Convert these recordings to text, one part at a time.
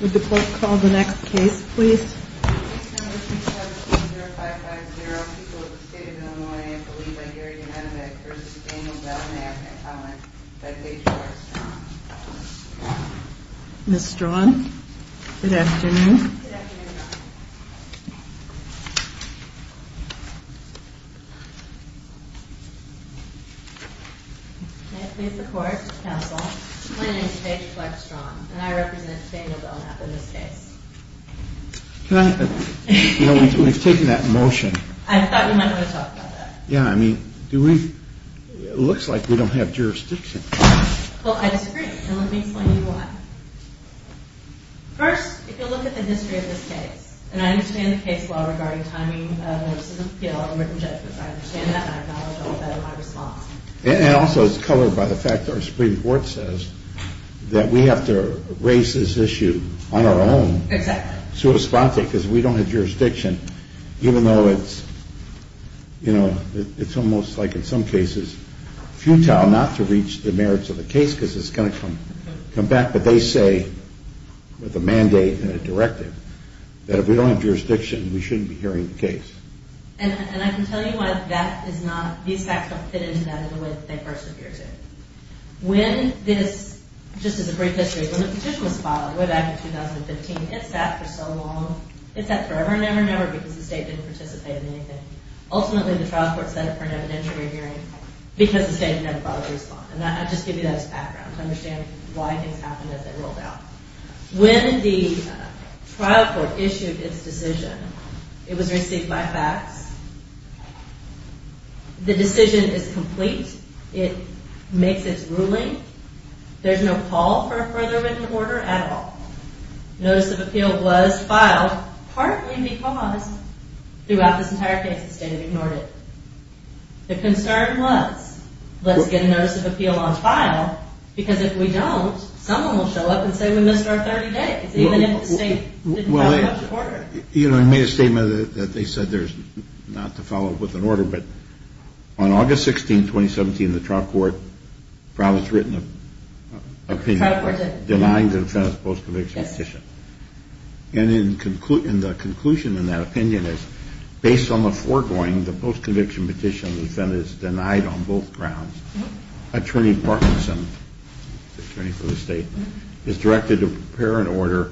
Would the court call the next case, please? Number 270550, people of the state of Illinois, a plea by Gary Yemenovic v. Daniel Belknap and comment by Paige Fleck-Strong. Ms. Strong, good afternoon. May it please the court, counsel, my name is Paige Fleck-Strong and I represent Daniel Belknap in this case. We've taken that motion. I thought we might want to talk about that. Yeah, I mean, it looks like we don't have jurisdiction. Well, I disagree, and let me explain why. First, if you look at the history of this case, and I understand the case law regarding timing of a written judgment, I understand that and I acknowledge all that in my response. And also it's covered by the fact that our Supreme Court says that we have to raise this issue on our own to respond to it because if we don't have jurisdiction, even though it's, you know, it's almost like in some cases futile not to reach the merits of the case because it's going to come back. But they say with a mandate and a directive that if we don't have jurisdiction we shouldn't be hearing the case. And I can tell you why that is not, these facts don't fit into that in the way that they first appear to. When this, just as a brief history, when the petition was filed way back in 2015, it sat for so long, it sat forever and ever and ever because the state didn't participate in anything. Ultimately the trial court set up for an evidentiary hearing because the state had never filed a response. And I'll just give you that as background to understand why things happened as they rolled out. When the trial court issued its decision, it was received by fax. The decision is complete. It makes its ruling. There's no call for a further written order at all. Notice of appeal was filed partly because throughout this entire case the state had ignored it. The concern was let's get a notice of appeal on file because if we don't someone will show up and say we missed our 30 days even if the state didn't follow up with an order. You know, I made a statement that they said not to follow up with an order, but on August 16, 2017, the trial court filed its written opinion denying the defendant's post-conviction petition. And the conclusion in that opinion is based on the foregoing, the post-conviction petition, the defendant is denied on both grounds. Attorney Parkinson, the attorney for the state, is directed to prepare an order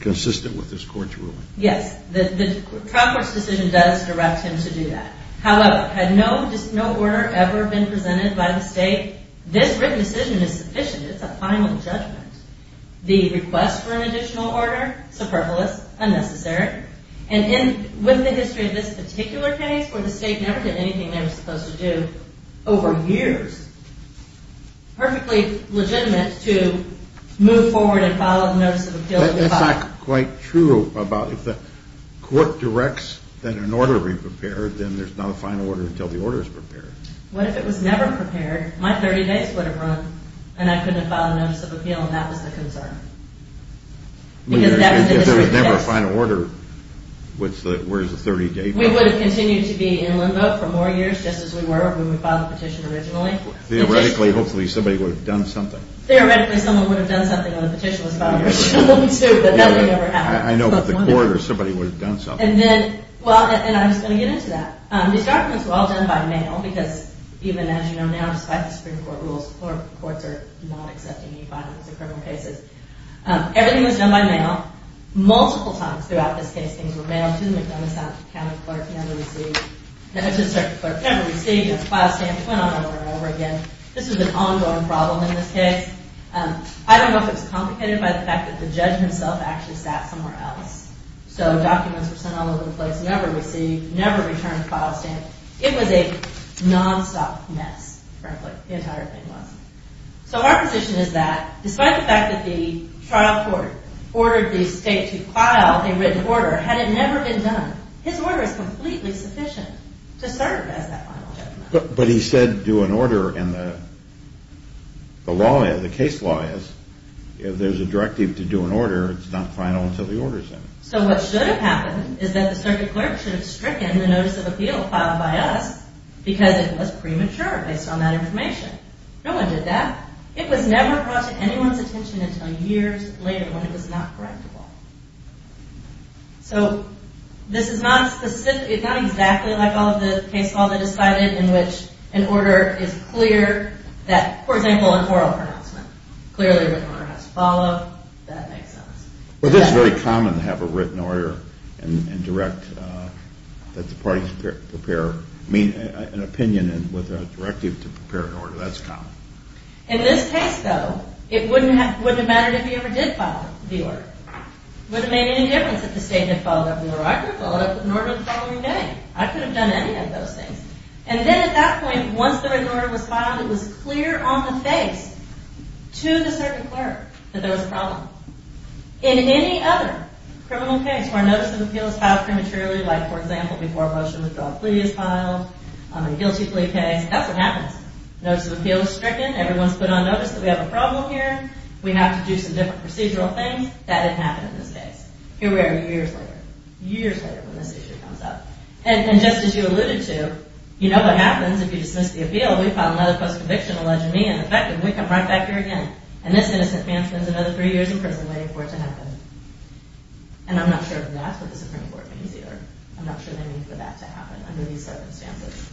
consistent with this court's ruling. Yes, the trial court's decision does direct him to do that. However, had no order ever been presented by the state, this written decision is sufficient. It's a final judgment. The request for an additional order, superfluous, unnecessary. And with the history of this particular case where the state never did anything they were supposed to do over years, perfectly legitimate to move forward and follow the notice of appeal. That's not quite true about if the court directs that an order be prepared, then there's not a final order until the order is prepared. What if it was never prepared? My 30 days would have run and I couldn't have filed a notice of appeal and that was the concern. If there was never a final order, where's the 30-day problem? We would have continued to be in limbo for more years just as we were if we would have filed the petition originally. Theoretically, hopefully, somebody would have done something. Theoretically, someone would have done something when the petition was filed originally too, but that would never happen. I know, but the court or somebody would have done something. I'm just going to get into that. These documents were all done by mail because even as you know now, despite the Supreme Court rules, the courts are not accepting any fines in criminal cases. Everything was done by mail. Multiple times throughout this case, things were mailed to the McDonough County clerk never received, never to the circuit clerk, never received. It was filed, stamped, went on over and over again. This was an ongoing problem in this case. I don't know if it was complicated by the fact that the judge himself actually sat somewhere else. So documents were sent all over the place, never received, never returned, filed, stamped. It was a nonstop mess, frankly, the entire thing was. So our position is that despite the fact that the trial court ordered the state to file a written order had it never been done, his order is completely sufficient to serve as that final judgment. But he said do an order and the law, the case law is If there's a directive to do an order, it's not final until the order's in. So what should have happened is that the circuit clerk should have stricken the notice of appeal filed by us because it was premature based on that information. No one did that. It was never brought to anyone's attention until years later when it was not correctable. So this is not exactly like all of the case law that is cited in which an order is clear that, for example, an oral pronouncement clearly the order has to follow. That makes sense. Well, this is very common to have a written order and direct, that the parties prepare an opinion with a directive to prepare an order. That's common. In this case, though, it wouldn't have mattered if he ever did file the order. It wouldn't have made any difference if the state had filed that order. I could have filed that order the following day. I could have done any of those things. And then at that point, once the written order was filed, it was clear on the face to the circuit clerk that there was a problem. In any other criminal case where a notice of appeal is filed prematurely, like, for example, before a motion to withdraw a plea is filed, a guilty plea case, that's what happens. Notice of appeal is stricken. Everyone's put on notice that we have a problem here. We have to do some different procedural things. That didn't happen in this case. Here we are years later, years later when this issue comes up. And just as you alluded to, you know what happens if you dismiss the appeal. We file another post-conviction, allegedly ineffective. We come right back here again. And this innocent man spends another three years in prison waiting for it to happen. And I'm not sure if that's what the Supreme Court means either. I'm not sure they mean for that to happen under these circumstances.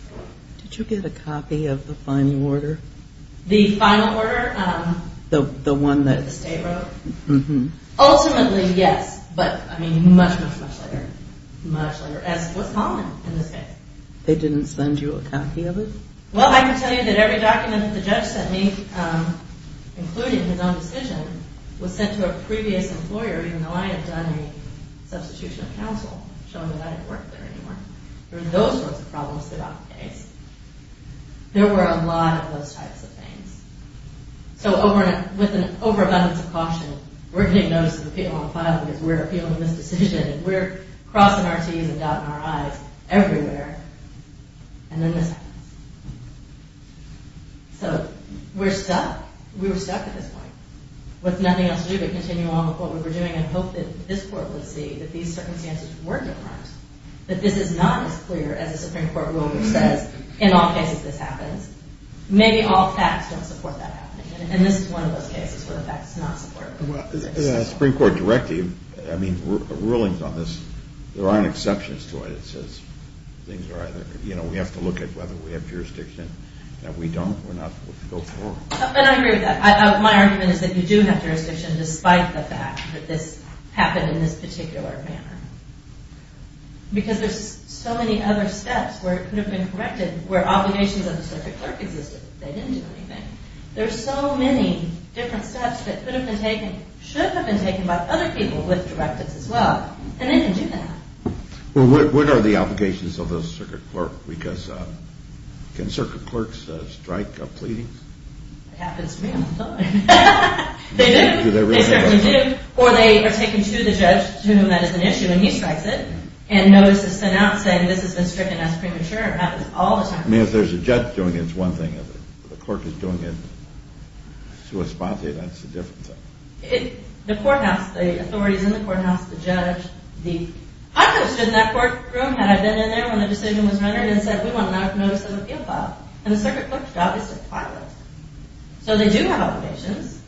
Did you get a copy of the final order? The final order? The one that the state wrote? Mm-hmm. Ultimately, yes. But, I mean, much, much, much later. Much later. As was common in this case. They didn't send you a copy of it? Well, I can tell you that every document that the judge sent me, including his own decision, was sent to a previous employer even though I had done a substitution of counsel showing that I didn't work there anymore. There were those sorts of problems throughout the case. There were a lot of those types of things. So, with an overabundance of caution, we're getting notice of the appeal on file because we're appealing this decision. We're crossing our T's and dotting our I's everywhere. And then this happens. So, we're stuck. We were stuck at this point. With nothing else to do but continue on with what we were doing and hope that this court would see that these circumstances were different. That this is not as clear as the Supreme Court rule which says, in all cases this happens. Maybe all facts don't support that happening. And this is one of those cases where the facts do not support it. The Supreme Court directive, I mean, rulings on this, there aren't exceptions to it. We have to look at whether we have jurisdiction. If we don't, we're not supposed to go forward. And I agree with that. My argument is that you do have jurisdiction despite the fact that this happened in this particular manner. Because there's so many other steps where it could have been corrected where obligations of the circuit clerk existed. They didn't do anything. There's so many different steps that could have been taken, should have been taken by other people with directives as well. And they didn't do that. Well, what are the obligations of the circuit clerk? Because can circuit clerks strike a pleading? It happens to me all the time. They do. Do they really? They certainly do. Or they are taken to the judge to whom that is an issue, and he strikes it. And notice is sent out saying this has been stricken as premature. It happens all the time. I mean, if there's a judge doing it, it's one thing. If the clerk is doing it to a spot, that's a different thing. The courthouse, the authorities in the courthouse, the judge, I could have stood in that courtroom had I been in there when the decision was rendered and said we want a notice of appeal filed. And the circuit clerk's job is to file it. So they do have obligations.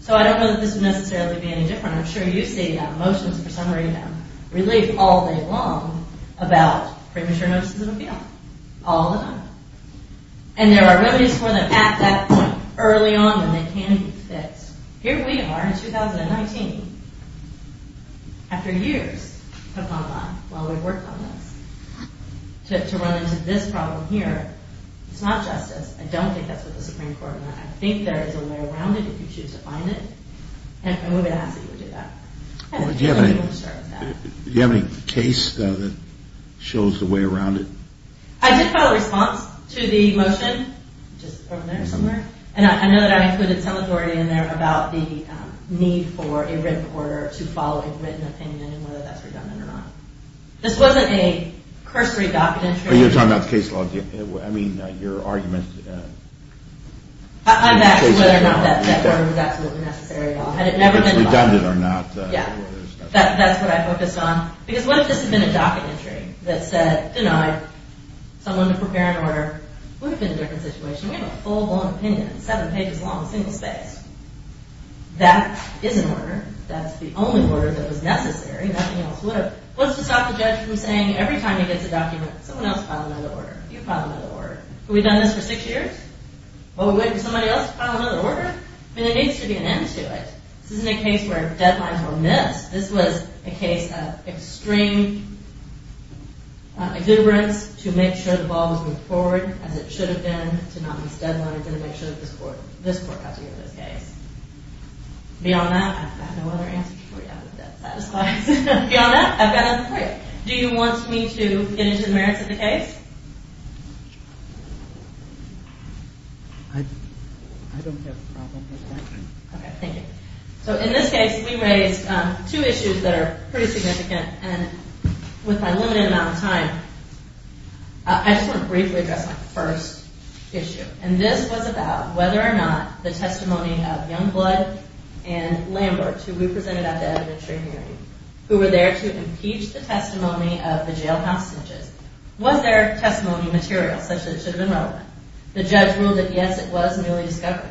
So I don't know that this would necessarily be any different. I'm sure you've seen motions for summary relief all day long about premature notices of appeal all the time. And there are remedies for them at that point early on when they can be fixed. Here we are in 2019, after years of online, while we've worked on this, to run into this problem here. It's not justice. I don't think that's what the Supreme Court meant. I think there is a way around it if you choose to find it. And we would ask that you would do that. Do you have any case, though, that shows the way around it? I did file a response to the motion just from there somewhere. And I know that I included some authority in there about the need for a written order to follow a written opinion and whether that's redundant or not. This wasn't a cursory docket entry. You're talking about the case law? I mean, your argument? I'm asking whether or not that order was absolutely necessary at all. Had it never been filed. If it's redundant or not. Yeah, that's what I focused on. Because what if this had been a docket entry that said, denied, someone to prepare an order? It would have been a different situation. We have a full-blown opinion. Seven pages long. Single space. That is an order. That's the only order that was necessary. Nothing else would have. What's to stop the judge from saying every time he gets a document, someone else file another order? You file another order. Have we done this for six years? What, we wait for somebody else to file another order? I mean, there needs to be an end to it. This isn't a case where deadlines are missed. This was a case of extreme exuberance to make sure the ball was moved forward as it should have been to not miss deadlines and to make sure this court got together this case. Beyond that, I've got no other answers for you. Beyond that, I've got nothing for you. Do you want me to get into the merits of the case? I don't have a problem with that. Okay, thank you. So in this case, we raised two issues that are pretty significant. And with my limited amount of time, I just want to briefly address my first issue. And this was about whether or not the testimony of Youngblood and Lambert, who we presented at the evidentiary hearing, who were there to impeach the testimony of the jail house snitches. Was their testimony material such that it should have been relevant? The judge ruled that, yes, it was newly discovered.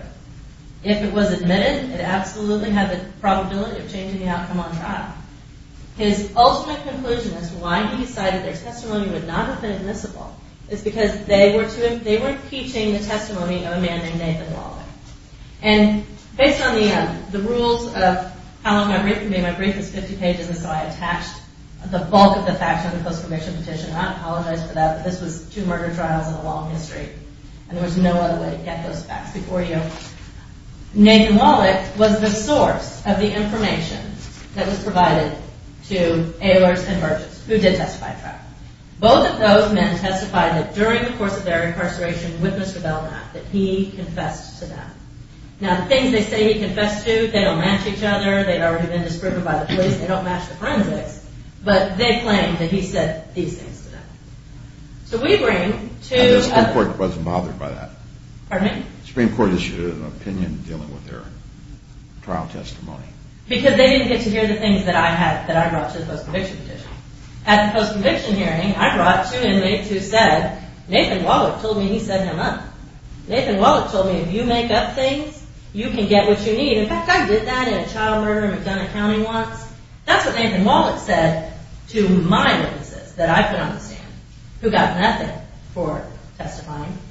If it was admitted, it absolutely had the probability of changing the outcome on trial. His ultimate conclusion as to why he decided their testimony would not have been admissible is because they were impeaching the testimony of a man named Nathan Wallick. And based on the rules of how long my brief can be, my brief is 50 pages, and so I attached the bulk of the facts on the post-conviction petition, and I apologize for that, but this was two murder trials in the long history, and there was no other way to get those facts before you. Nathan Wallick was the source of the information that was provided to Ehlers and Merchants, who did testify at trial. Both of those men testified that during the course of their incarceration with Mr. Belknap, that he confessed to that. Now, the things they say he confessed to, they don't match each other, they've already been disproven by the police, they don't match the forensics, but they claim that he said these things to them. So we bring to a... The Supreme Court wasn't bothered by that. Pardon me? The Supreme Court issued an opinion dealing with their trial testimony. Because they didn't get to hear the things that I had, that I brought to the post-conviction petition. At the post-conviction hearing, I brought two inmates who said, Nathan Wallick told me he set him up. Nathan Wallick told me, if you make up things, you can get what you need. In fact, I did that in a child murder, I've done accounting once. That's what Nathan Wallick said to my witnesses that I put on the stand,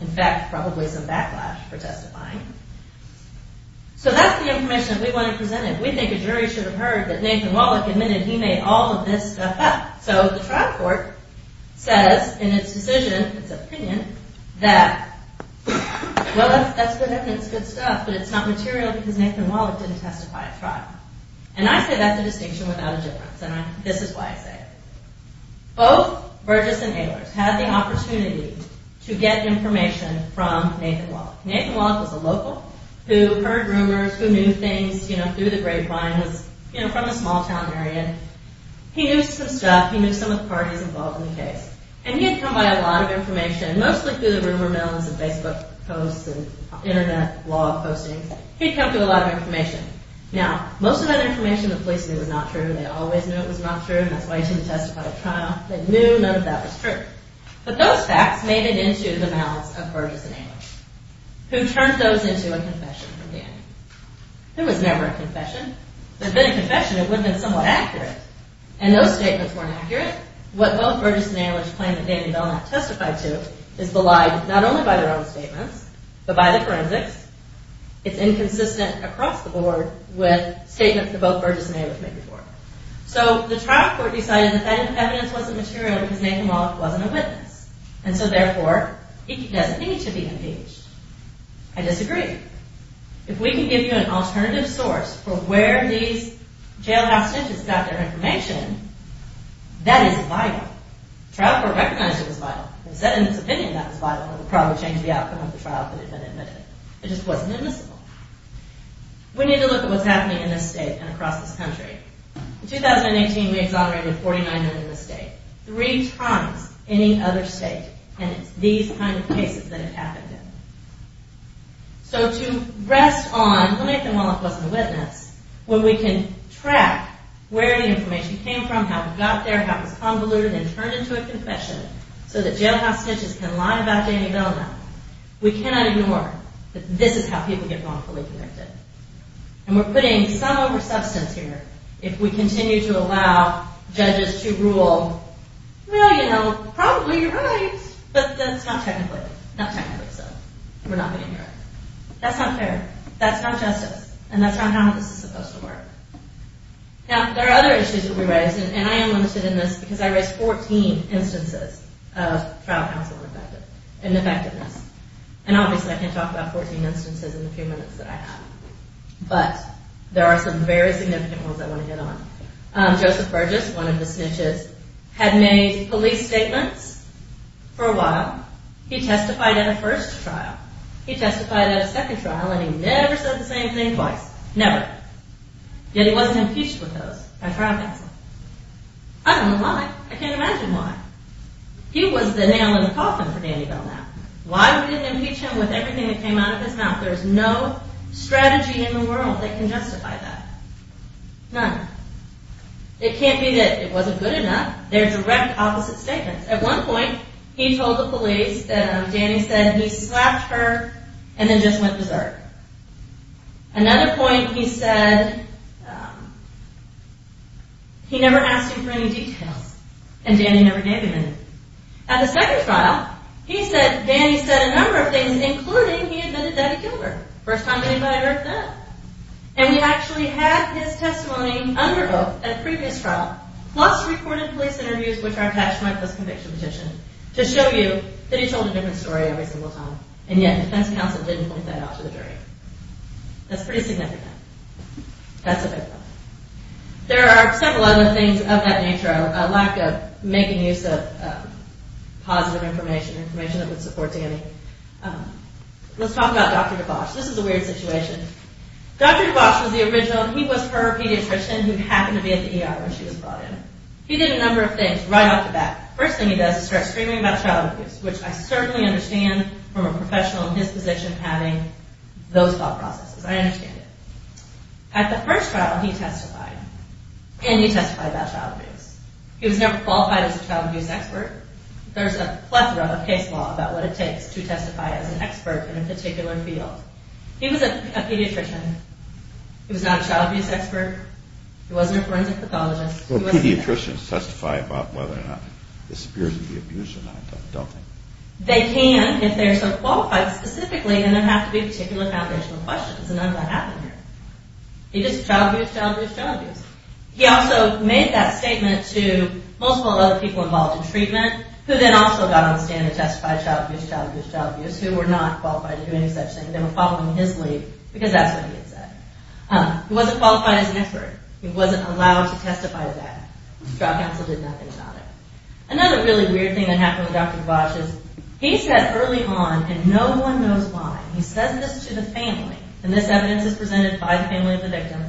In fact, probably some backlash for testifying. So that's the information that we want to present. We think a jury should have heard that Nathan Wallick admitted he made all of this stuff up. So the trial court says, in its decision, its opinion, that, well, that's good evidence, good stuff, but it's not material because Nathan Wallick didn't testify at trial. And I say that's a distinction without a difference, and this is why I say it. Both Burgess and Ehlers had the opportunity to get information from Nathan Wallick. Nathan Wallick was a local who heard rumors, who knew things, you know, through the grapevines, you know, from the small-town area. He knew some stuff, he knew some of the parties involved in the case. And he had come by a lot of information, mostly through the rumor mills and Facebook posts and internet blog postings. He'd come through a lot of information. Now, most of that information the police knew was not true, they always knew it was not true, and that's why he didn't testify at trial. They knew none of that was true. But those facts made it into the mouths of Burgess and Ehlers, who turned those into a confession from Danny. There was never a confession. If there had been a confession, it would have been somewhat accurate. And those statements weren't accurate. What both Burgess and Ehlers claim that Danny Belknap testified to is belied not only by their own statements, but by the forensics. It's inconsistent across the board with statements that both Burgess and Ehlers made before. So, the trial court decided that that evidence wasn't material because Nathan Wallach wasn't a witness. And so therefore, he doesn't need to be impeached. I disagree. If we can give you an alternative source for where these jailhouse judges got their information, that is vital. The trial court recognized it was vital. It said in its opinion that it was vital, and it would probably change the outcome of the trial if it had been admitted. It just wasn't admissible. We need to look at what's happening in this state and across this country. In 2018, we exonerated 49 men in this state. Three times any other state. And it's these kind of cases that it happened in. So, to rest on Nathan Wallach wasn't a witness, when we can track where the information came from, how it got there, how it was convoluted and turned into a confession, so that jailhouse judges can lie about Danny Belknap, we cannot ignore that this is how people get wrongfully convicted. And we're putting some oversubstance here. If we continue to allow judges to rule, well, you know, probably you're right, but that's not technically. Not technically, so we're not going to ignore it. That's not fair. That's not justice. And that's not how this is supposed to work. Now, there are other issues that we raise, and I am limited in this because I raised 14 instances of trial counsel ineffectiveness. And obviously I can't talk about 14 instances in the few minutes that I have. But there are some very significant ones I want to hit on. Joseph Burgess, one of the snitches, had made police statements for a while. He testified at a first trial. He testified at a second trial, and he never said the same thing twice. Never. Yet he wasn't impeached with those by trial counsel. I don't know why. I can't imagine why. He was the nail in the coffin for Danny Belknap. Why would he impeach him with everything that came out of his mouth? There's no strategy in the world that can justify that. None. It can't be that it wasn't good enough. They're direct opposite statements. At one point, he told the police that Danny said he slapped her and then just went berserk. Another point, he said he never asked him for any details, and Danny never gave him any. At the second trial, he said Danny said a number of things, including he admitted that he killed her. First time anybody ever heard that. And he actually had his testimony under oath at a previous trial, plus recorded police interviews, which are attached to my post-conviction petition, to show you that he told a different story every single time, and yet defense counsel didn't point that out to the jury. That's pretty significant. That's a big one. There are several other things of that nature. A lack of making use of positive information, information that would support Danny. Let's talk about Dr. DeBosch. This is a weird situation. Dr. DeBosch was the original. He was her pediatrician who happened to be at the ER when she was brought in. He did a number of things right off the bat. First thing he does is start screaming about child abuse, which I certainly understand from a professional in his position having those thought processes. I understand it. At the first trial, he testified, and he testified about child abuse. He was never qualified as a child abuse expert. There's a plethora of case law about what it takes to testify as an expert in a particular field. He was a pediatrician. He was not a child abuse expert. He wasn't a forensic pathologist. Pediatricians testify about whether or not this appears to be abuse or not, don't they? They can if they are so qualified specifically, and there have to be particular foundational questions, and none of that happened here. It's just child abuse, child abuse, child abuse. He also made that statement to multiple other people involved in treatment, who then also got on the stand and testified about child abuse, child abuse, child abuse, who were not qualified to do any such thing, and they were following his lead because that's what he had said. He wasn't qualified as an expert. He wasn't allowed to testify to that. The trial counsel did nothing about it. Another really weird thing that happened with Dr. DeBosch is he said early on, and no one knows why, he said this to the family, and this evidence is presented by the family of the victim,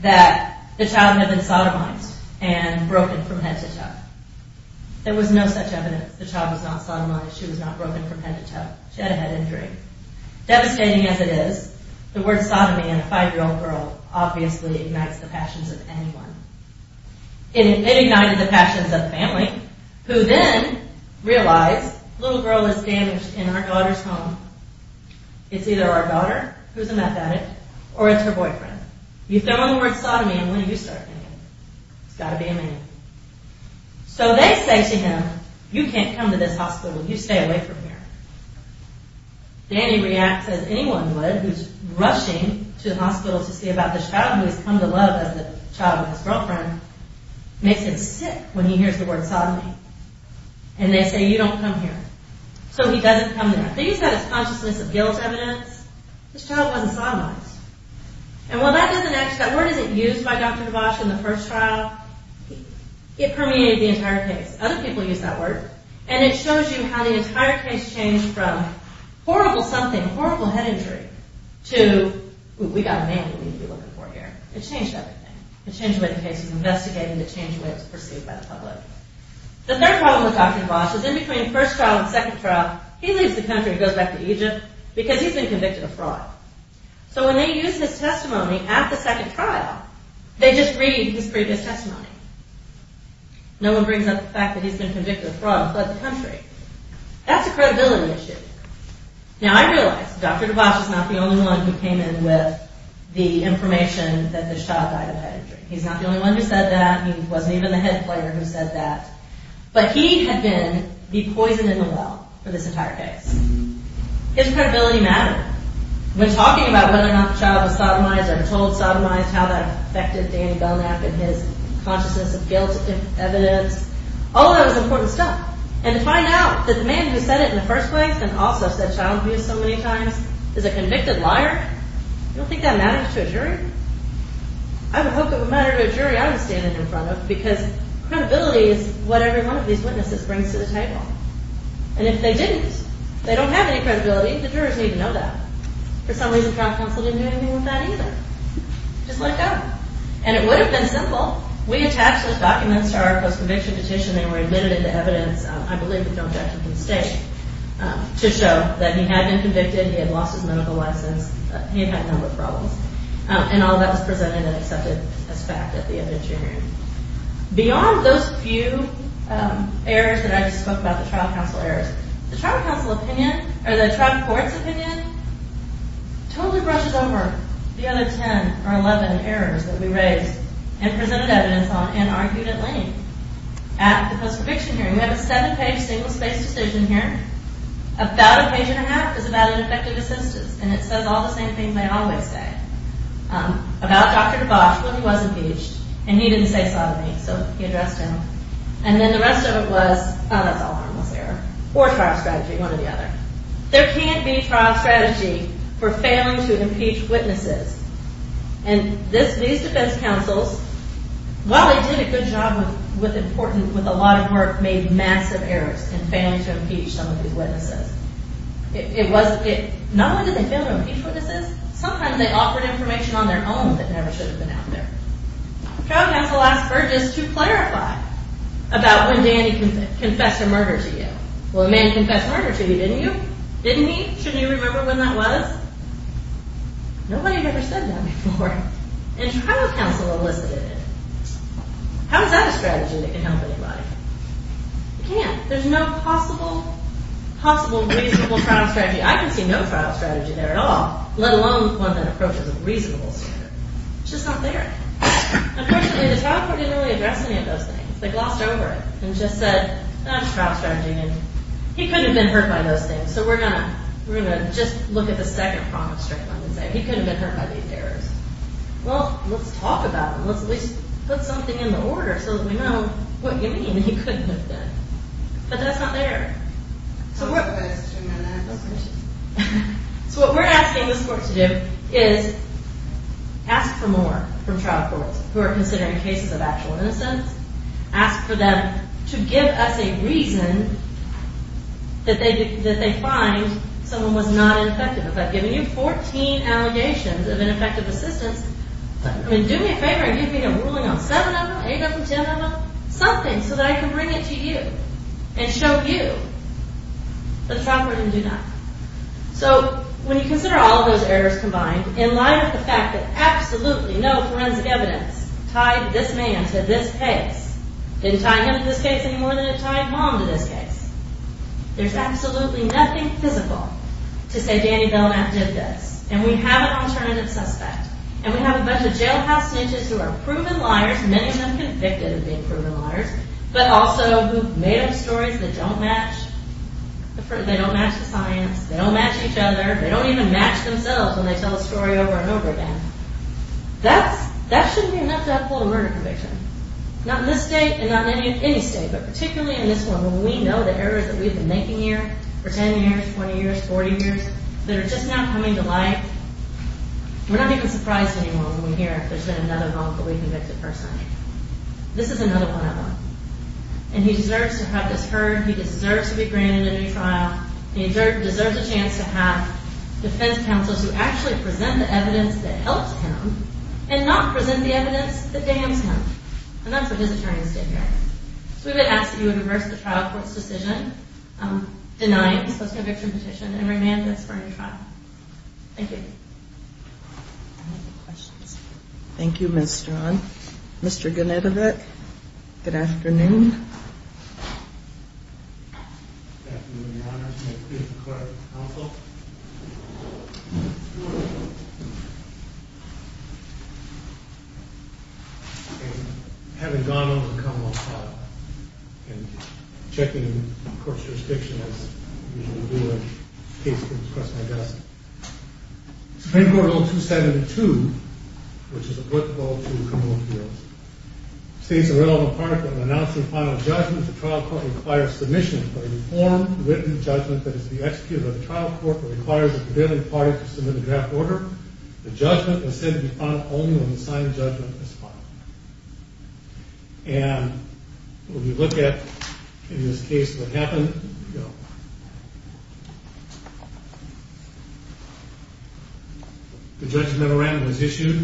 that the child had been sodomized and broken from head to toe. There was no such evidence. The child was not sodomized. She was not broken from head to toe. She had a head injury. Devastating as it is, the word sodomy in a 5-year-old girl obviously ignites the passions of anyone. It ignited the passions of the family, who then realized, little girl is damaged in our daughter's home. It's either our daughter, who's a meth addict, or it's her boyfriend. You throw in the word sodomy, and when do you start thinking? It's got to be a man. So they say to him, you can't come to this hospital. You stay away from here. Danny reacts as anyone would, who's rushing to the hospital to see about this child who has come to love as a child with his girlfriend, makes him sick when he hears the word sodomy. And they say, you don't come here. So he doesn't come there. They use that as consciousness of guilt evidence. This child wasn't sodomized. And while that doesn't actually, that word isn't used by Dr. Devast in the first trial. It permeated the entire case. Other people use that word. And it shows you how the entire case changed from horrible something, horrible head injury, to, we got a man we need to be looking for here. It changed everything. It changed the way the case was investigated. It changed the way it was perceived by the public. The third problem with Dr. Devast is, in between the first trial and the second trial, he leaves the country and goes back to Egypt because he's been convicted of fraud. So when they use his testimony at the second trial, they just read his previous testimony. No one brings up the fact that he's been convicted of fraud and fled the country. That's a credibility issue. Now, I realize Dr. Devast is not the only one who came in with the information that this child died of head injury. He's not the only one who said that. He wasn't even the head player who said that. But he had been the poison in the well for this entire case. His credibility mattered. When talking about whether or not the child was sodomized or told sodomized, how that affected Danny Belknap and his consciousness of guilt evidence, all of that was important stuff. And to find out that the man who said it in the first place and also said child abuse so many times is a convicted liar, you don't think that matters to a jury? I would hope it would matter to a jury I would be standing in front of because credibility is what every one of these witnesses brings to the table. And if they didn't, they don't have any credibility. The jurors need to know that. For some reason, trial counsel didn't do anything with that either. Just let go. And it would have been simple. We attached those documents to our post-conviction petition and were admitted into evidence, I believe with no objection from the state, to show that he had been convicted, he had lost his medical license, he had had a number of problems. And all of that was presented and accepted as fact at the eviction hearing. Beyond those few errors that I just spoke about, the trial counsel errors, the trial court's opinion totally brushes over the other 10 or 11 errors that we raised and presented evidence on and argued at length at the post-conviction hearing. We have a seven-page, single-spaced decision here. About a page and a half is about ineffective assistance. And it says all the same things I always say about Dr. DeBosch when he was impeached. And he didn't say so to me, so he addressed him. And then the rest of it was, oh, that's all harmless error. Or trial strategy, one or the other. There can't be trial strategy for failing to impeach witnesses. And these defense counsels, while they did a good job with a lot of work, made massive errors in failing to impeach some of these witnesses. Not only did they fail to impeach witnesses, sometimes they offered information on their own that never should have been out there. Trial counsel asked Burgess to clarify about when Danny confessed a murder to you. Well, a man confessed murder to you, didn't he? Shouldn't you remember when that was? Nobody had ever said that before. And trial counsel elicited it. How is that a strategy that can help anybody? It can't. There's no possible reasonable trial strategy. I can see no trial strategy there at all. Let alone one that approaches a reasonable standard. It's just not there. Unfortunately, the trial court didn't really address any of those things. They glossed over it and just said, that's trial strategy. And he couldn't have been hurt by those things. So we're going to just look at the second problem straight on and say, he couldn't have been hurt by these errors. Well, let's talk about them. Let's at least put something in the order so that we know what you mean. He couldn't have been. But that's not there. So what we're asking this court to do is ask for more from trial courts who are considering cases of actual innocence. Ask for them to give us a reason that they find someone was not effective. It's like giving you 14 allegations of ineffective assistance. Do me a favor and give me a ruling on 7 of them, 8 of them, 10 of them. Something so that I can bring it to you and show you that the trial court didn't do that. When you consider all of those errors combined in line with the fact that absolutely no forensic evidence tied this man to this case didn't tie him to this case any more than it tied mom to this case. There's absolutely nothing physical to say Danny Belknap did this. And we have an alternative suspect. And we have a bunch of jailhouse snitches who are proven liars, many of them convicted of being proven liars, but also who've made up stories that don't match. They don't match the science. They don't match each other. They don't even match themselves when they tell a story over and over again. That shouldn't be enough to have a full murder conviction. Not in this state and not in any state, but particularly in this one where we know the errors that we've been making here for 10 years, 20 years, 40 years, that are just now coming to light. We're not even surprised anymore when we hear there's been another wrongfully convicted person. This is another one of them. And he deserves to have this heard. He deserves to be granted a new trial. He deserves a chance to have defense counsels who actually present the evidence that helps him and not present the evidence that damns him. And that's what his attorney is doing here. So we would ask that you deny the suspicious conviction petition and remand this for a new trial. Thank you. Any other questions? Thank you, Ms. Strachan. Mr. Ganetovic. Good afternoon. Good afternoon, Your Honor. I'm here to declare counsel. And having gone over the Commonwealth trial and checking the court's jurisdiction as I usually do when the case comes across my desk. Supreme Court Rule 272, which is applicable to the Commonwealth of New York, states a relevant part of the announcing final judgment. The trial court requires submission of a reformed written judgment that is the executive of the trial court that requires the prevailing party to submit a draft order. The judgment is said to be final only when the signed judgment is filed. And when we look at in this case what happened, the judgment was issued.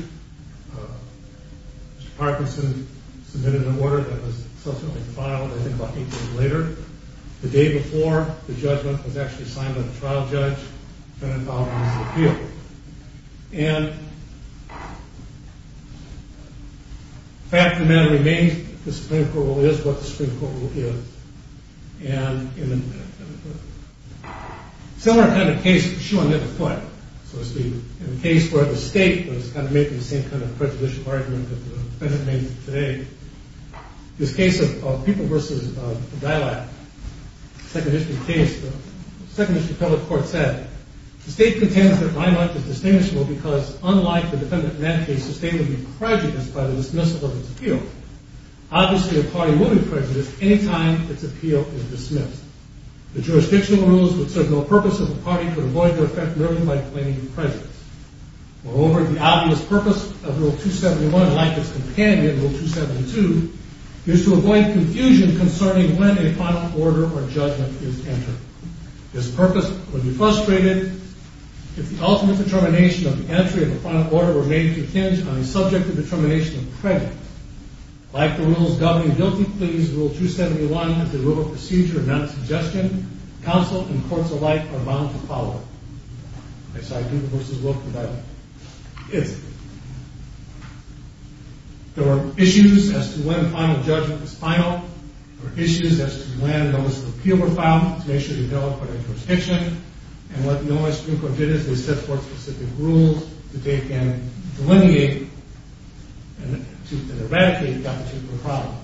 Mr. Parkinson submitted an order that was subsequently filed I think about 18 days later. The day before the judgment was actually signed by the trial judge, Ganetovic was repealed. And the fact of the matter remains the Supreme Court Rule is what the Supreme Court Rule is. And in the similar kind of case, in the case where the state was kind of making the same kind of prejudicial argument that the defendant made today, this case of people versus the dialogue, second history case, the second history trial court said the state contends that dialogue is distinguishable because unlike the defendant in that case, the state would be prejudiced by the dismissal of its appeal. Obviously, a party would be prejudiced any time its appeal is dismissed. The jurisdictional rules would serve no purpose if a party could avoid their effect merely by claiming prejudice. Moreover, the obvious purpose of Rule 271, like its companion Rule 272, is to avoid confusion concerning when a final order or judgment is entered. This purpose would be frustrated if the ultimate determination of the entry of the final order remained contingent on the subjective determination of prejudice. Like the rules governing guilty pleas, Rule 271 and the rule of procedure of non-suggestion, counsel and courts alike are bound to follow. That's how people versus the dialogue is. There are issues as to when final judgment is final. There are issues as to when those of appeal were found to make sure that there was a development of jurisdiction. And what Noah Strunkor did is they set forth specific rules that they can delineate and eradicate that particular problem.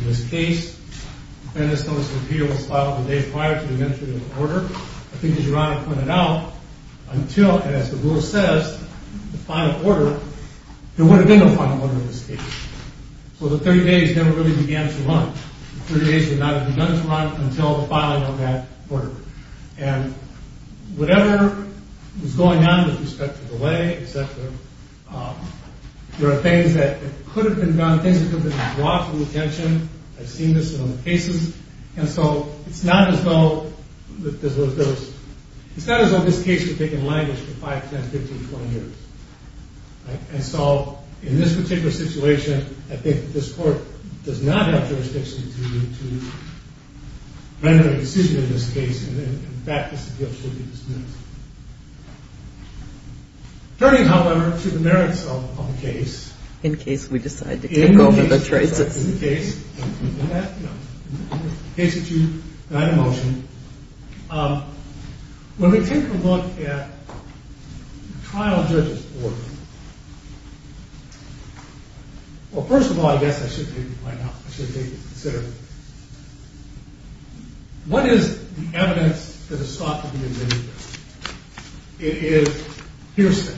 In this case, the defendant's notice of appeal was filed the day prior to the entry of the order. I think as Your Honor pointed out, until, and as the rule says, the final order, there would have been a final order in this case. So the 30 days never really began to run. The 30 days did not have begun to run until the filing of that order. And whatever was going on with respect to the lay, et cetera, there are things that could have been done, things that could have been brought to the attention. I've seen this in other cases. And so it's not as though this case had been languished for 5, 10, 15, 20 years. And so in this particular situation, I think this court does not have to render a decision in this case. And in fact, this appeal should be dismissed. Turning, however, to the merits of the case. In case we decide to take over the traces. In case that you deny the motion, when we take a look at the trial judges' board, well, first of all, I guess I should maybe point out, I should maybe consider, what is the evidence that is thought to be in this case? It is hearsay.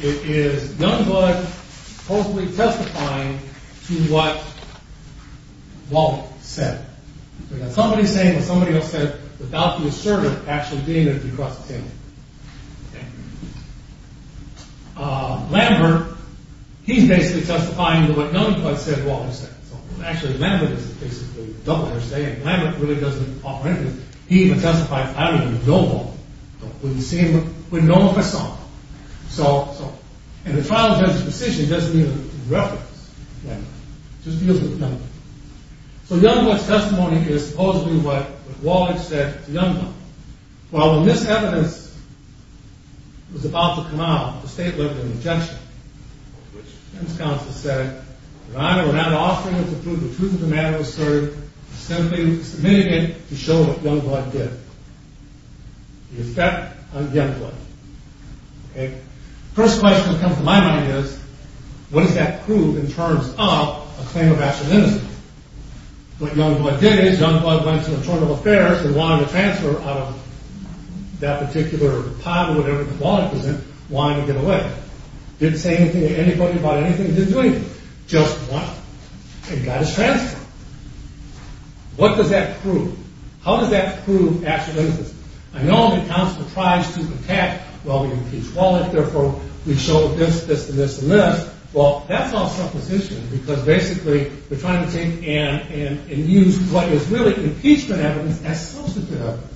It is none but supposedly testifying to what Walden said. Somebody saying what somebody else said without the assertive actually being there to cross the table. Okay? Lambert, he's basically testifying to what Youngblood said Walden said. Actually, Lambert is basically double hearsay, and Lambert really doesn't offer anything. He even testifies, I don't even know Walden. We've seen what Walden saw. And the trial judge's decision doesn't even reference Lambert. It just deals with Youngblood. So Youngblood's testimony is supposedly what Walden said to Youngblood. Well, when this evidence was about to come out, the state left an objection. The defense counsel said that either without offering the truth of the matter asserted, or simply submitting it to show what Youngblood did. The effect on Youngblood. Okay? The first question that comes to my mind is what does that prove in terms of a claim of actual innocence? What Youngblood did is, Youngblood went to Internal Affairs and wanted to transfer out of that particular pile of whatever the wallet was in, wanting to get away. Didn't say anything to anybody about anything, didn't do anything. Just what? And got us transferred. What does that prove? How does that prove actual innocence? I know the counsel tries to attack Walden's impeached wallet, therefore we show this, this, and this, and this. Well, that's all supposition, because basically, we're trying to take and use what is really impeachment evidence as substantive evidence.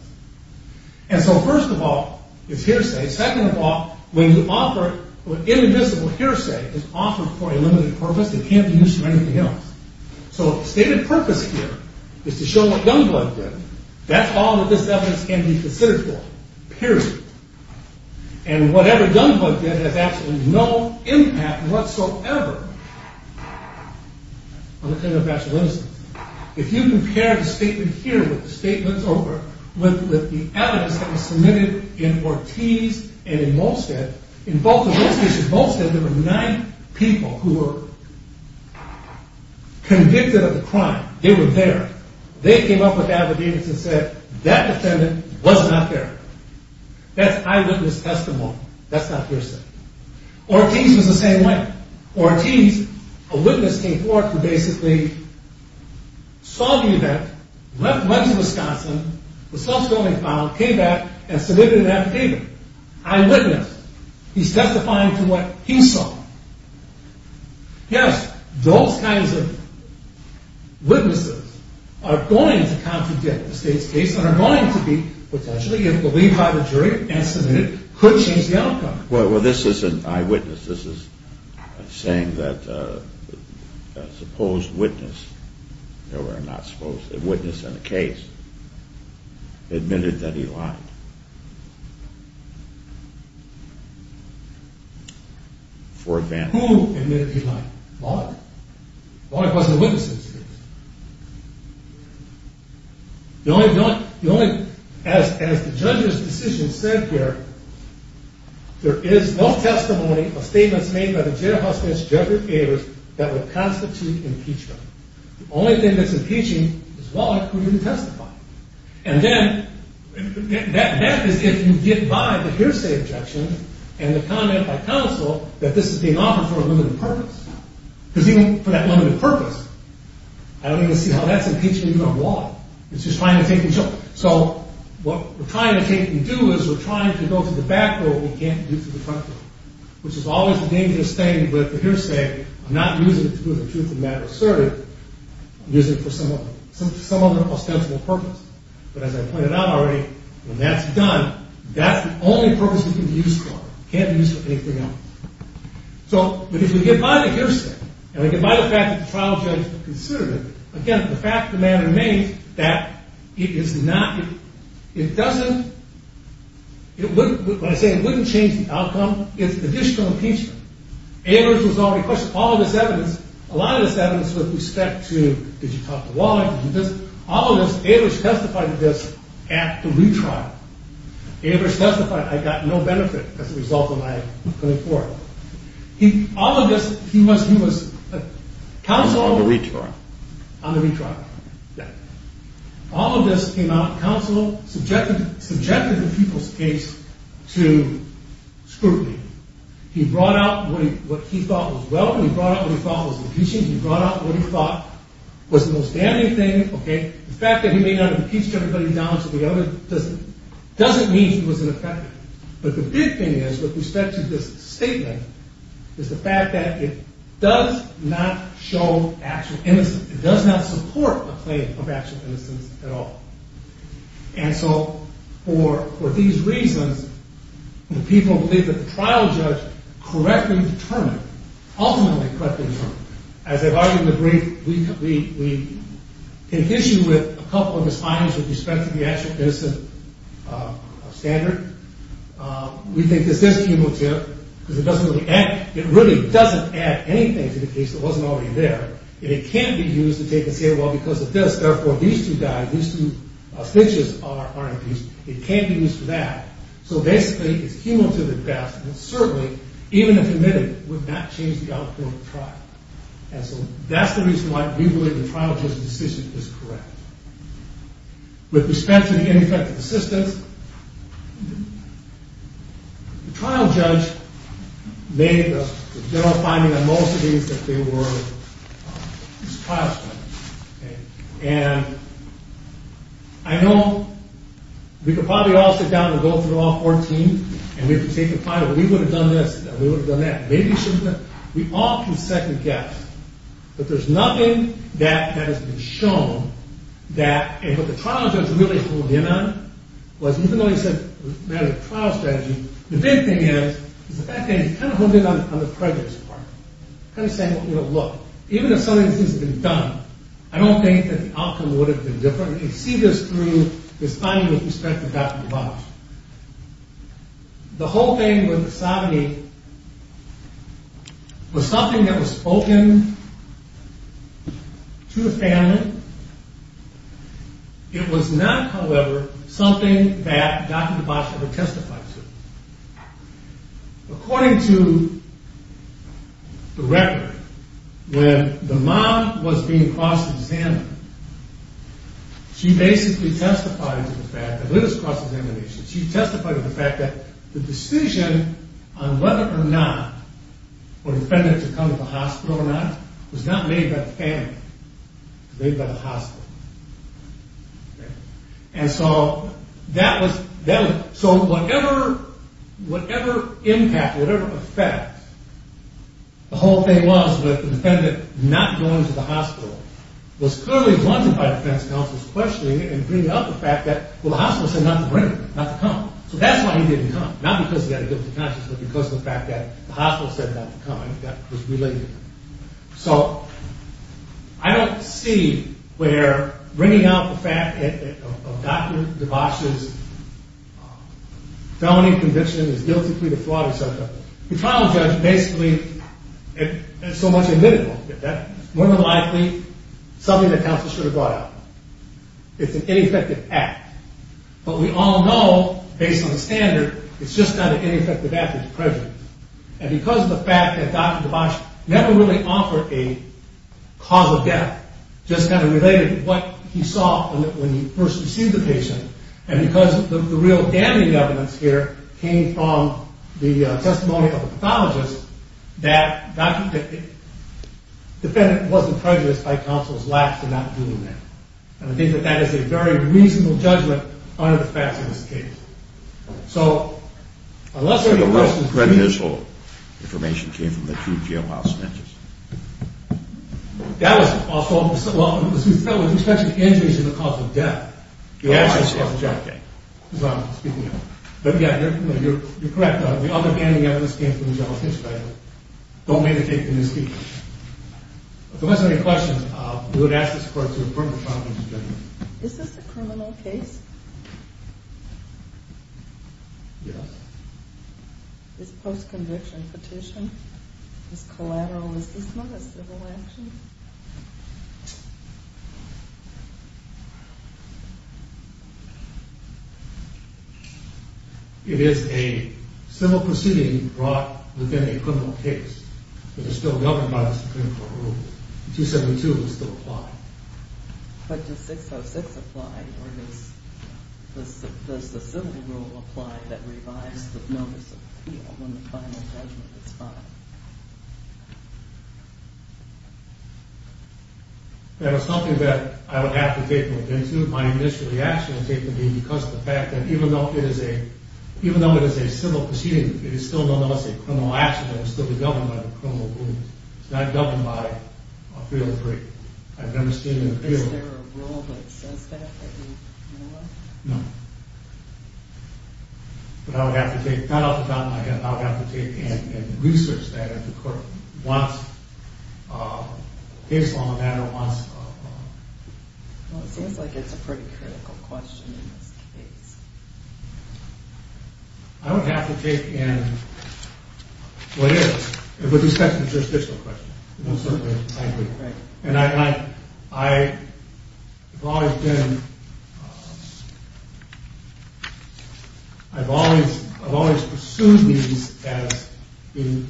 And so first of all, is hearsay. Second of all, when you offer, when indivisible hearsay is offered for a limited purpose, it can't be used for anything else. So if the stated purpose here is to show what Youngblood did, that's all that this evidence can be considered for. Period. And whatever Youngblood did has absolutely no impact whatsoever on the claim of actual innocence. If you compare the statement here with the statements over with the evidence that was submitted in Ortiz and in Molstad, in both of those cases, Molstad, there were nine people who were convicted of the crime. They were there. They came up with evidence and said, that defendant was not there. That's eyewitness testimony. That's not hearsay. Ortiz was the same way. Ortiz, a witness came forward who basically saw the event, went to Wisconsin, was subsequently found, came back, and submitted an affidavit. Eyewitness. He's testifying to what he saw. Yes, those kinds of witnesses are going to contradict the state's case and are going to be potentially, if believed by the jury and submitted, could change the outcome. Well, this isn't eyewitness. This is saying that a supposed witness there were not supposed, a witness in the case admitted that he lied. For example. Who admitted he lied? The lawyer. The lawyer wasn't a witness in this case. The only, as the judge's decision said here, there is no testimony of statements made by the jail hospital's judge or payers that would constitute impeachment. The only thing that's impeaching is one who didn't testify. And then, that is if you get by the hearsay objection and the comment by counsel that this is being offered for a limited purpose. Because even for that limited purpose, I don't even see how that's impeaching even on the law. It's just trying to take control. What we're trying to take and do is we're trying to go to the back door we can't do to the front door. Which is always the hearsay. I'm not using it to do with the truth of the matter asserted. I'm using it for some other ostensible purpose. But as I pointed out already, when that's done, that's the only purpose we can be used for. We can't be used for anything else. So, if we get by the hearsay, and we get by the fact that the trial judge considered it, again, the fact of the matter remains that it is not, it doesn't, it wouldn't, when I say it wouldn't change the outcome, it's additional impeachment. All of this evidence, a lot of this evidence with respect to did you talk to Wally? All of this, Avers testified to this at the retrial. Avers testified, I got no benefit as a result of my coming forward. All of this, he was counsel on the retrial. All of this came out of counsel, subjected the people's case to scrutiny. He brought out what he thought was welcome. He brought out what he thought was impeaching. He brought out what he thought was the most damning thing. The fact that he may not have impeached everybody down to the other doesn't mean he was ineffective. But the big thing is, with respect to this statement, is the fact that it does not show actual innocence. It does not support a claim of actual innocence at all. And so, for these reasons, the people believe that the trial judge correctly determined, ultimately correctly determined, as I've argued in the brief, we can issue with a couple of his findings with respect to the actual innocence standard. We think this is emotive, because it really doesn't add anything to the case that wasn't already there. And it can't be used to take and say, well, because of this, therefore, these two guys, these two snitches are impeached. It can't be used for that. So, basically, it's emotive at best, but certainly, even if admitted, it would not change the outcome of the trial. And so, that's the reason why we believe the trial judge's decision is correct. With respect to the ineffective assistance, the trial judge made the general finding that most of these, that they were trial offenders. And I know we could probably all sit down and go through all 14, and we have to take the final. We would have done this, we would have done that. Maybe we shouldn't have. We all can second-guess, but there's nothing that has been shown that, and what the trial judge really holed in on, was even though he said it was a matter of trial strategy, the big thing is, is the fact that he kind of holed in on the prejudice part. Kind of saying, you know, look, even if some of these things had been done, I don't think that the outcome would have been different. And you see this through this finding with respect to Dr. DeBosch. The whole thing with the sovereignty was something that was spoken to the family. It was not, however, something that Dr. DeBosch ever testified to. According to the record, when the mom was being cross-examined, she basically testified to the fact, she testified to the fact that the decision on whether or not for the defendant to come to the hospital or not was not made by the family. It was made by the hospital. And so that was, so whatever impact, whatever effect, the whole thing was with the defendant not going to the hospital was clearly blunted by defense counsel's questioning and bringing up the fact that the hospital said not to bring him, not to come. So that's why he didn't come. Not because he had a guilty conscience, but because of the fact that the hospital said not to come, and that was related. So I don't see where bringing out the fact of Dr. DeBosch's felony conviction and his guilty plea to fraud, etc. The trial judge basically so much admitted that that was more than likely something that counsel should have brought out. It's an ineffective act. But we all know, based on the standard, it's just not an ineffective act of prejudice. And because of the fact that Dr. DeBosch never really offered a cause of death, just kind of related to what he saw when he first received the patient, and because the real damning evidence here came from the testimony of a pathologist, that Dr. DeBosch wasn't prejudiced by counsel's lack for not doing that. And I think that that is a very reasonable judgment under the facts of this case. So, unless any of this information came from the two jailhouse judges. That was also, well, as we said, we can't judge the cause of death. But yeah, you're correct. The other damning evidence came from the jailhouse judge that don't make the case in this case. If there wasn't any questions, we would ask this court to approve the trial judgment. Is this a criminal case? Yes. Is this a post-conviction petition? Is this collateral? Is this not a civil action? It is a civil proceeding brought within a criminal case that is still governed by the Supreme Court rule. 272 would still apply. But does 606 apply, or does the civil rule apply that revives the notice of appeal when the final judgment is filed? That was something that I would have to take into my initial reaction because of the fact that even though it is a civil proceeding, it is still nonetheless a criminal action that is still governed by the criminal rule. It's not governed by Appeal 3. I've never seen an appeal. Is there a rule that says that? No. But I would have to take, not off the top of my head, but I would have to take in research that the court wants based on the matter wants. Well, it seems like it's a pretty critical question in this case. I would have to take in what is, but this is a jurisdictional question. And I have always been I've always pursued these as being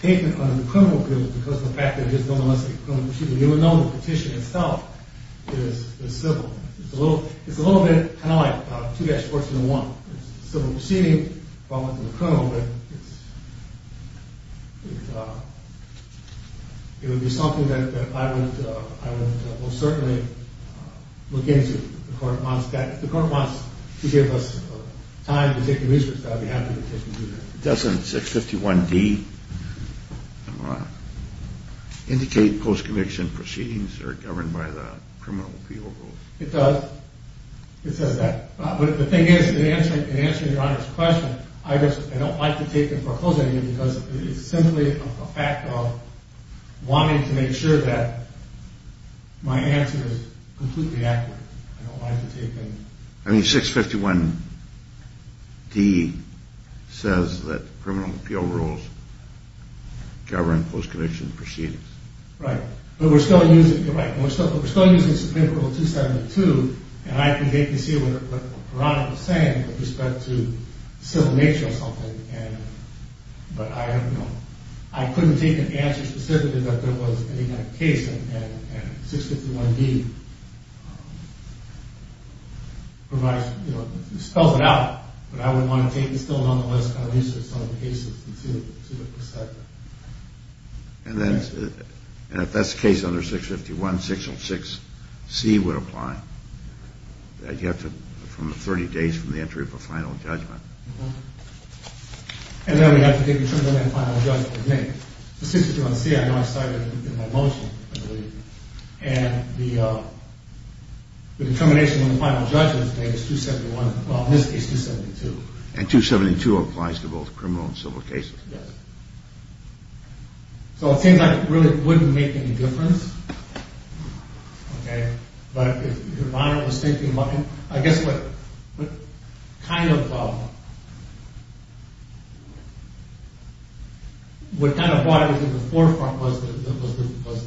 taken under the criminal appeal because of the fact that it is nonetheless a criminal proceeding. You would know the petition itself is civil. It's a little bit kind of like 2-14-1. It's a civil proceeding. It would be something that I would most certainly look into if the court wants to give us time to take in research. I'd be happy to take in research. Doesn't 651D indicate post-conviction proceedings are governed by the criminal appeal rule? It does. It says that. But the thing is in answering Your Honor's question, I don't like to take in foreclosure because it is simply a fact of wanting to make sure that my answer is completely accurate. I don't like to take in... I mean, 651D says that criminal appeal rules govern post-conviction proceedings. Right. But we're still using Supreme Court Rule 272 and I can vaguely see what Your Honor was saying with respect to civil nature or something. But I don't know. I couldn't take an answer specifically that there was any kind of case and 651D provides... spells it out, but I wouldn't want to take it. It's still on the list of cases. And then if that's the case under 651, 606C would apply. 30 days from the entry of a final judgment. And then we'd have to take a final judgment. 606C, I know I cited it in my motion. And the determination on the final judgment is 271, well in this case 272. And 272 applies to both criminal and civil cases. Yes. So it seems like it really wouldn't make any difference. Okay. But if Your Honor was thinking about... I guess what kind of what kind of water was in the forefront was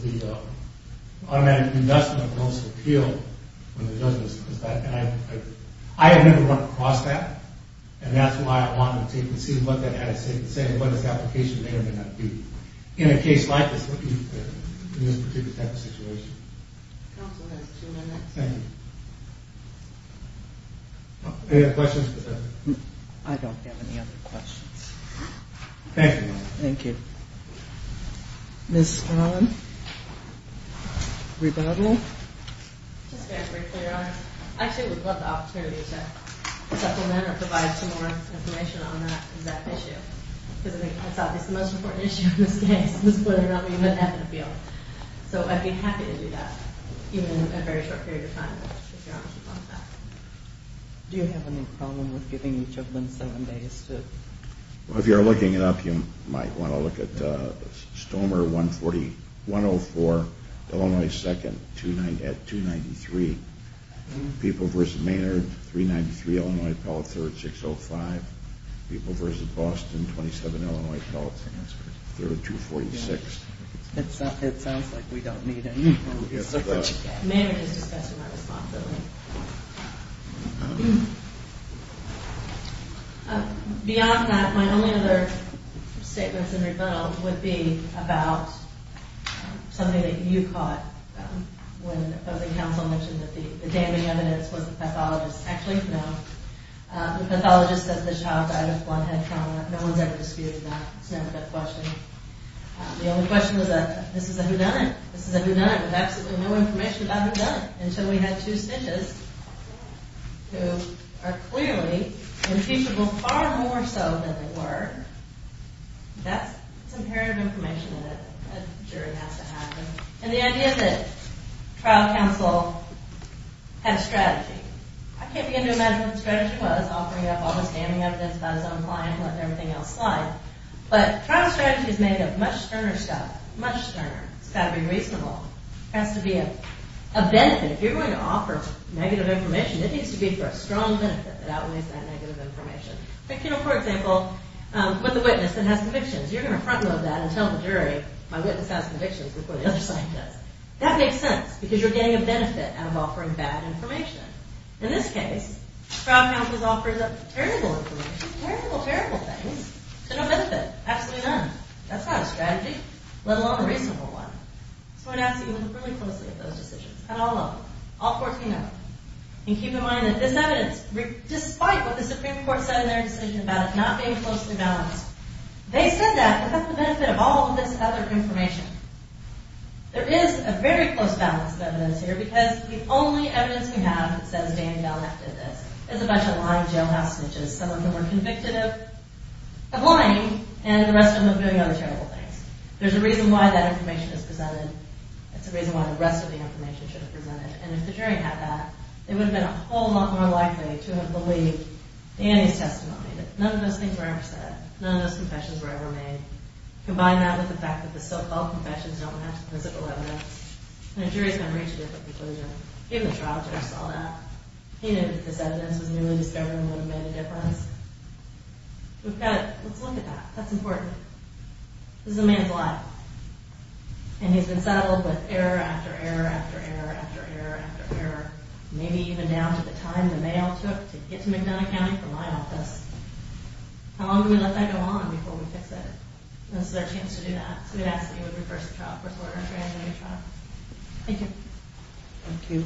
the automatic investment when it does this. I have never run across that. And that's why I wanted to see what that had to say and what its application may or may not be. In a case like this, in this particular type of situation. Counsel, that's two minutes. Thank you. Any other questions? I don't have any other questions. Thank you. Thank you. Ms. Swan? Rebuttal? Just very briefly, Your Honor. Actually, I would love the opportunity to supplement or provide some more information on that exact issue. Because I think that's obviously the most important issue in this case. This is clearly not me, but that's the field. So I'd be happy to do that even in a very short period of time if Your Honor would want that. Do you have any problem with giving each of them seven days to... Well, if you're looking it up, you might want to look at Stormer 104, Illinois 2nd, at 293. People v. Maynard, 393, Illinois, Apollo 3rd, 605. People v. Boston, 27, Illinois, Apollo 3rd, 246. It sounds like we don't need any... Maynard is discussing that responsibly. Beyond that, my only other statements in rebuttal would be about something that you caught when the opposing counsel mentioned that the damning evidence was the pathologist. Actually, no. The pathologist says the child died of one head trauma. No one's ever disputed that. It's never been questioned. The only question was that this is a whodunit. This is a whodunit with absolutely no information about whodunit until we had two witnesses who are clearly impeachable far more so than they were. That's imperative information that a jury has to have. And the idea that trial counsel had a strategy. I can't begin to imagine what the strategy was, offering up all this damning evidence by his own client and letting everything else slide. But trial strategy is made of much sterner stuff. Much sterner. It's got to be reasonable. It has to be a benefit. And if you're going to offer negative information, it needs to be for a strong benefit that outweighs that negative information. For example, with a witness that has convictions, you're going to frontload that and tell the jury, my witness has convictions before the other side does. That makes sense because you're getting a benefit out of offering bad information. In this case, trial counsel offers up terrible information, terrible, terrible things to no benefit. Absolutely none. That's not a strategy, let alone a reasonable one. So I'd ask that you look really closely at those decisions, at all of them. All 14 of them. And keep in mind that this evidence, despite what the Supreme Court said in their decision about it not being closely balanced, they said that without the benefit of all of this other information. There is a very close balance of evidence here because the only evidence we have that says Danny Balak did this is a bunch of lying jailhouse snitches. Some of them were convicted of lying and the rest of them of doing other terrible things. There's a reason why that information is presented. It's a reason why the rest of the information should have presented. And if the jury had that, they would have been a whole lot more likely to have believed Danny's testimony. None of those things were ever said. None of those confessions were ever made. Combine that with the fact that the so-called confessions don't match the physical evidence, and the jury's going to reach a different conclusion. Even the trial judge saw that. He knew that this evidence was newly discovered and would have made a difference. Let's look at that. That's important. This is a man's life. And he's been saddled with error after error after error after error after error. Maybe even down to the time the mail took to get to McDonough County from my office. How long do we let that go on before we fix it? This is our chance to do that. So we ask that you would reverse the trial. Thank you. Thank you.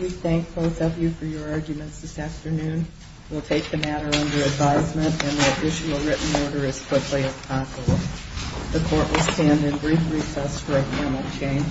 We thank both of you for your arguments this afternoon. We'll take the matter under advisement and the additional written order as quickly as possible. The court will stand in brief recess for a panel change.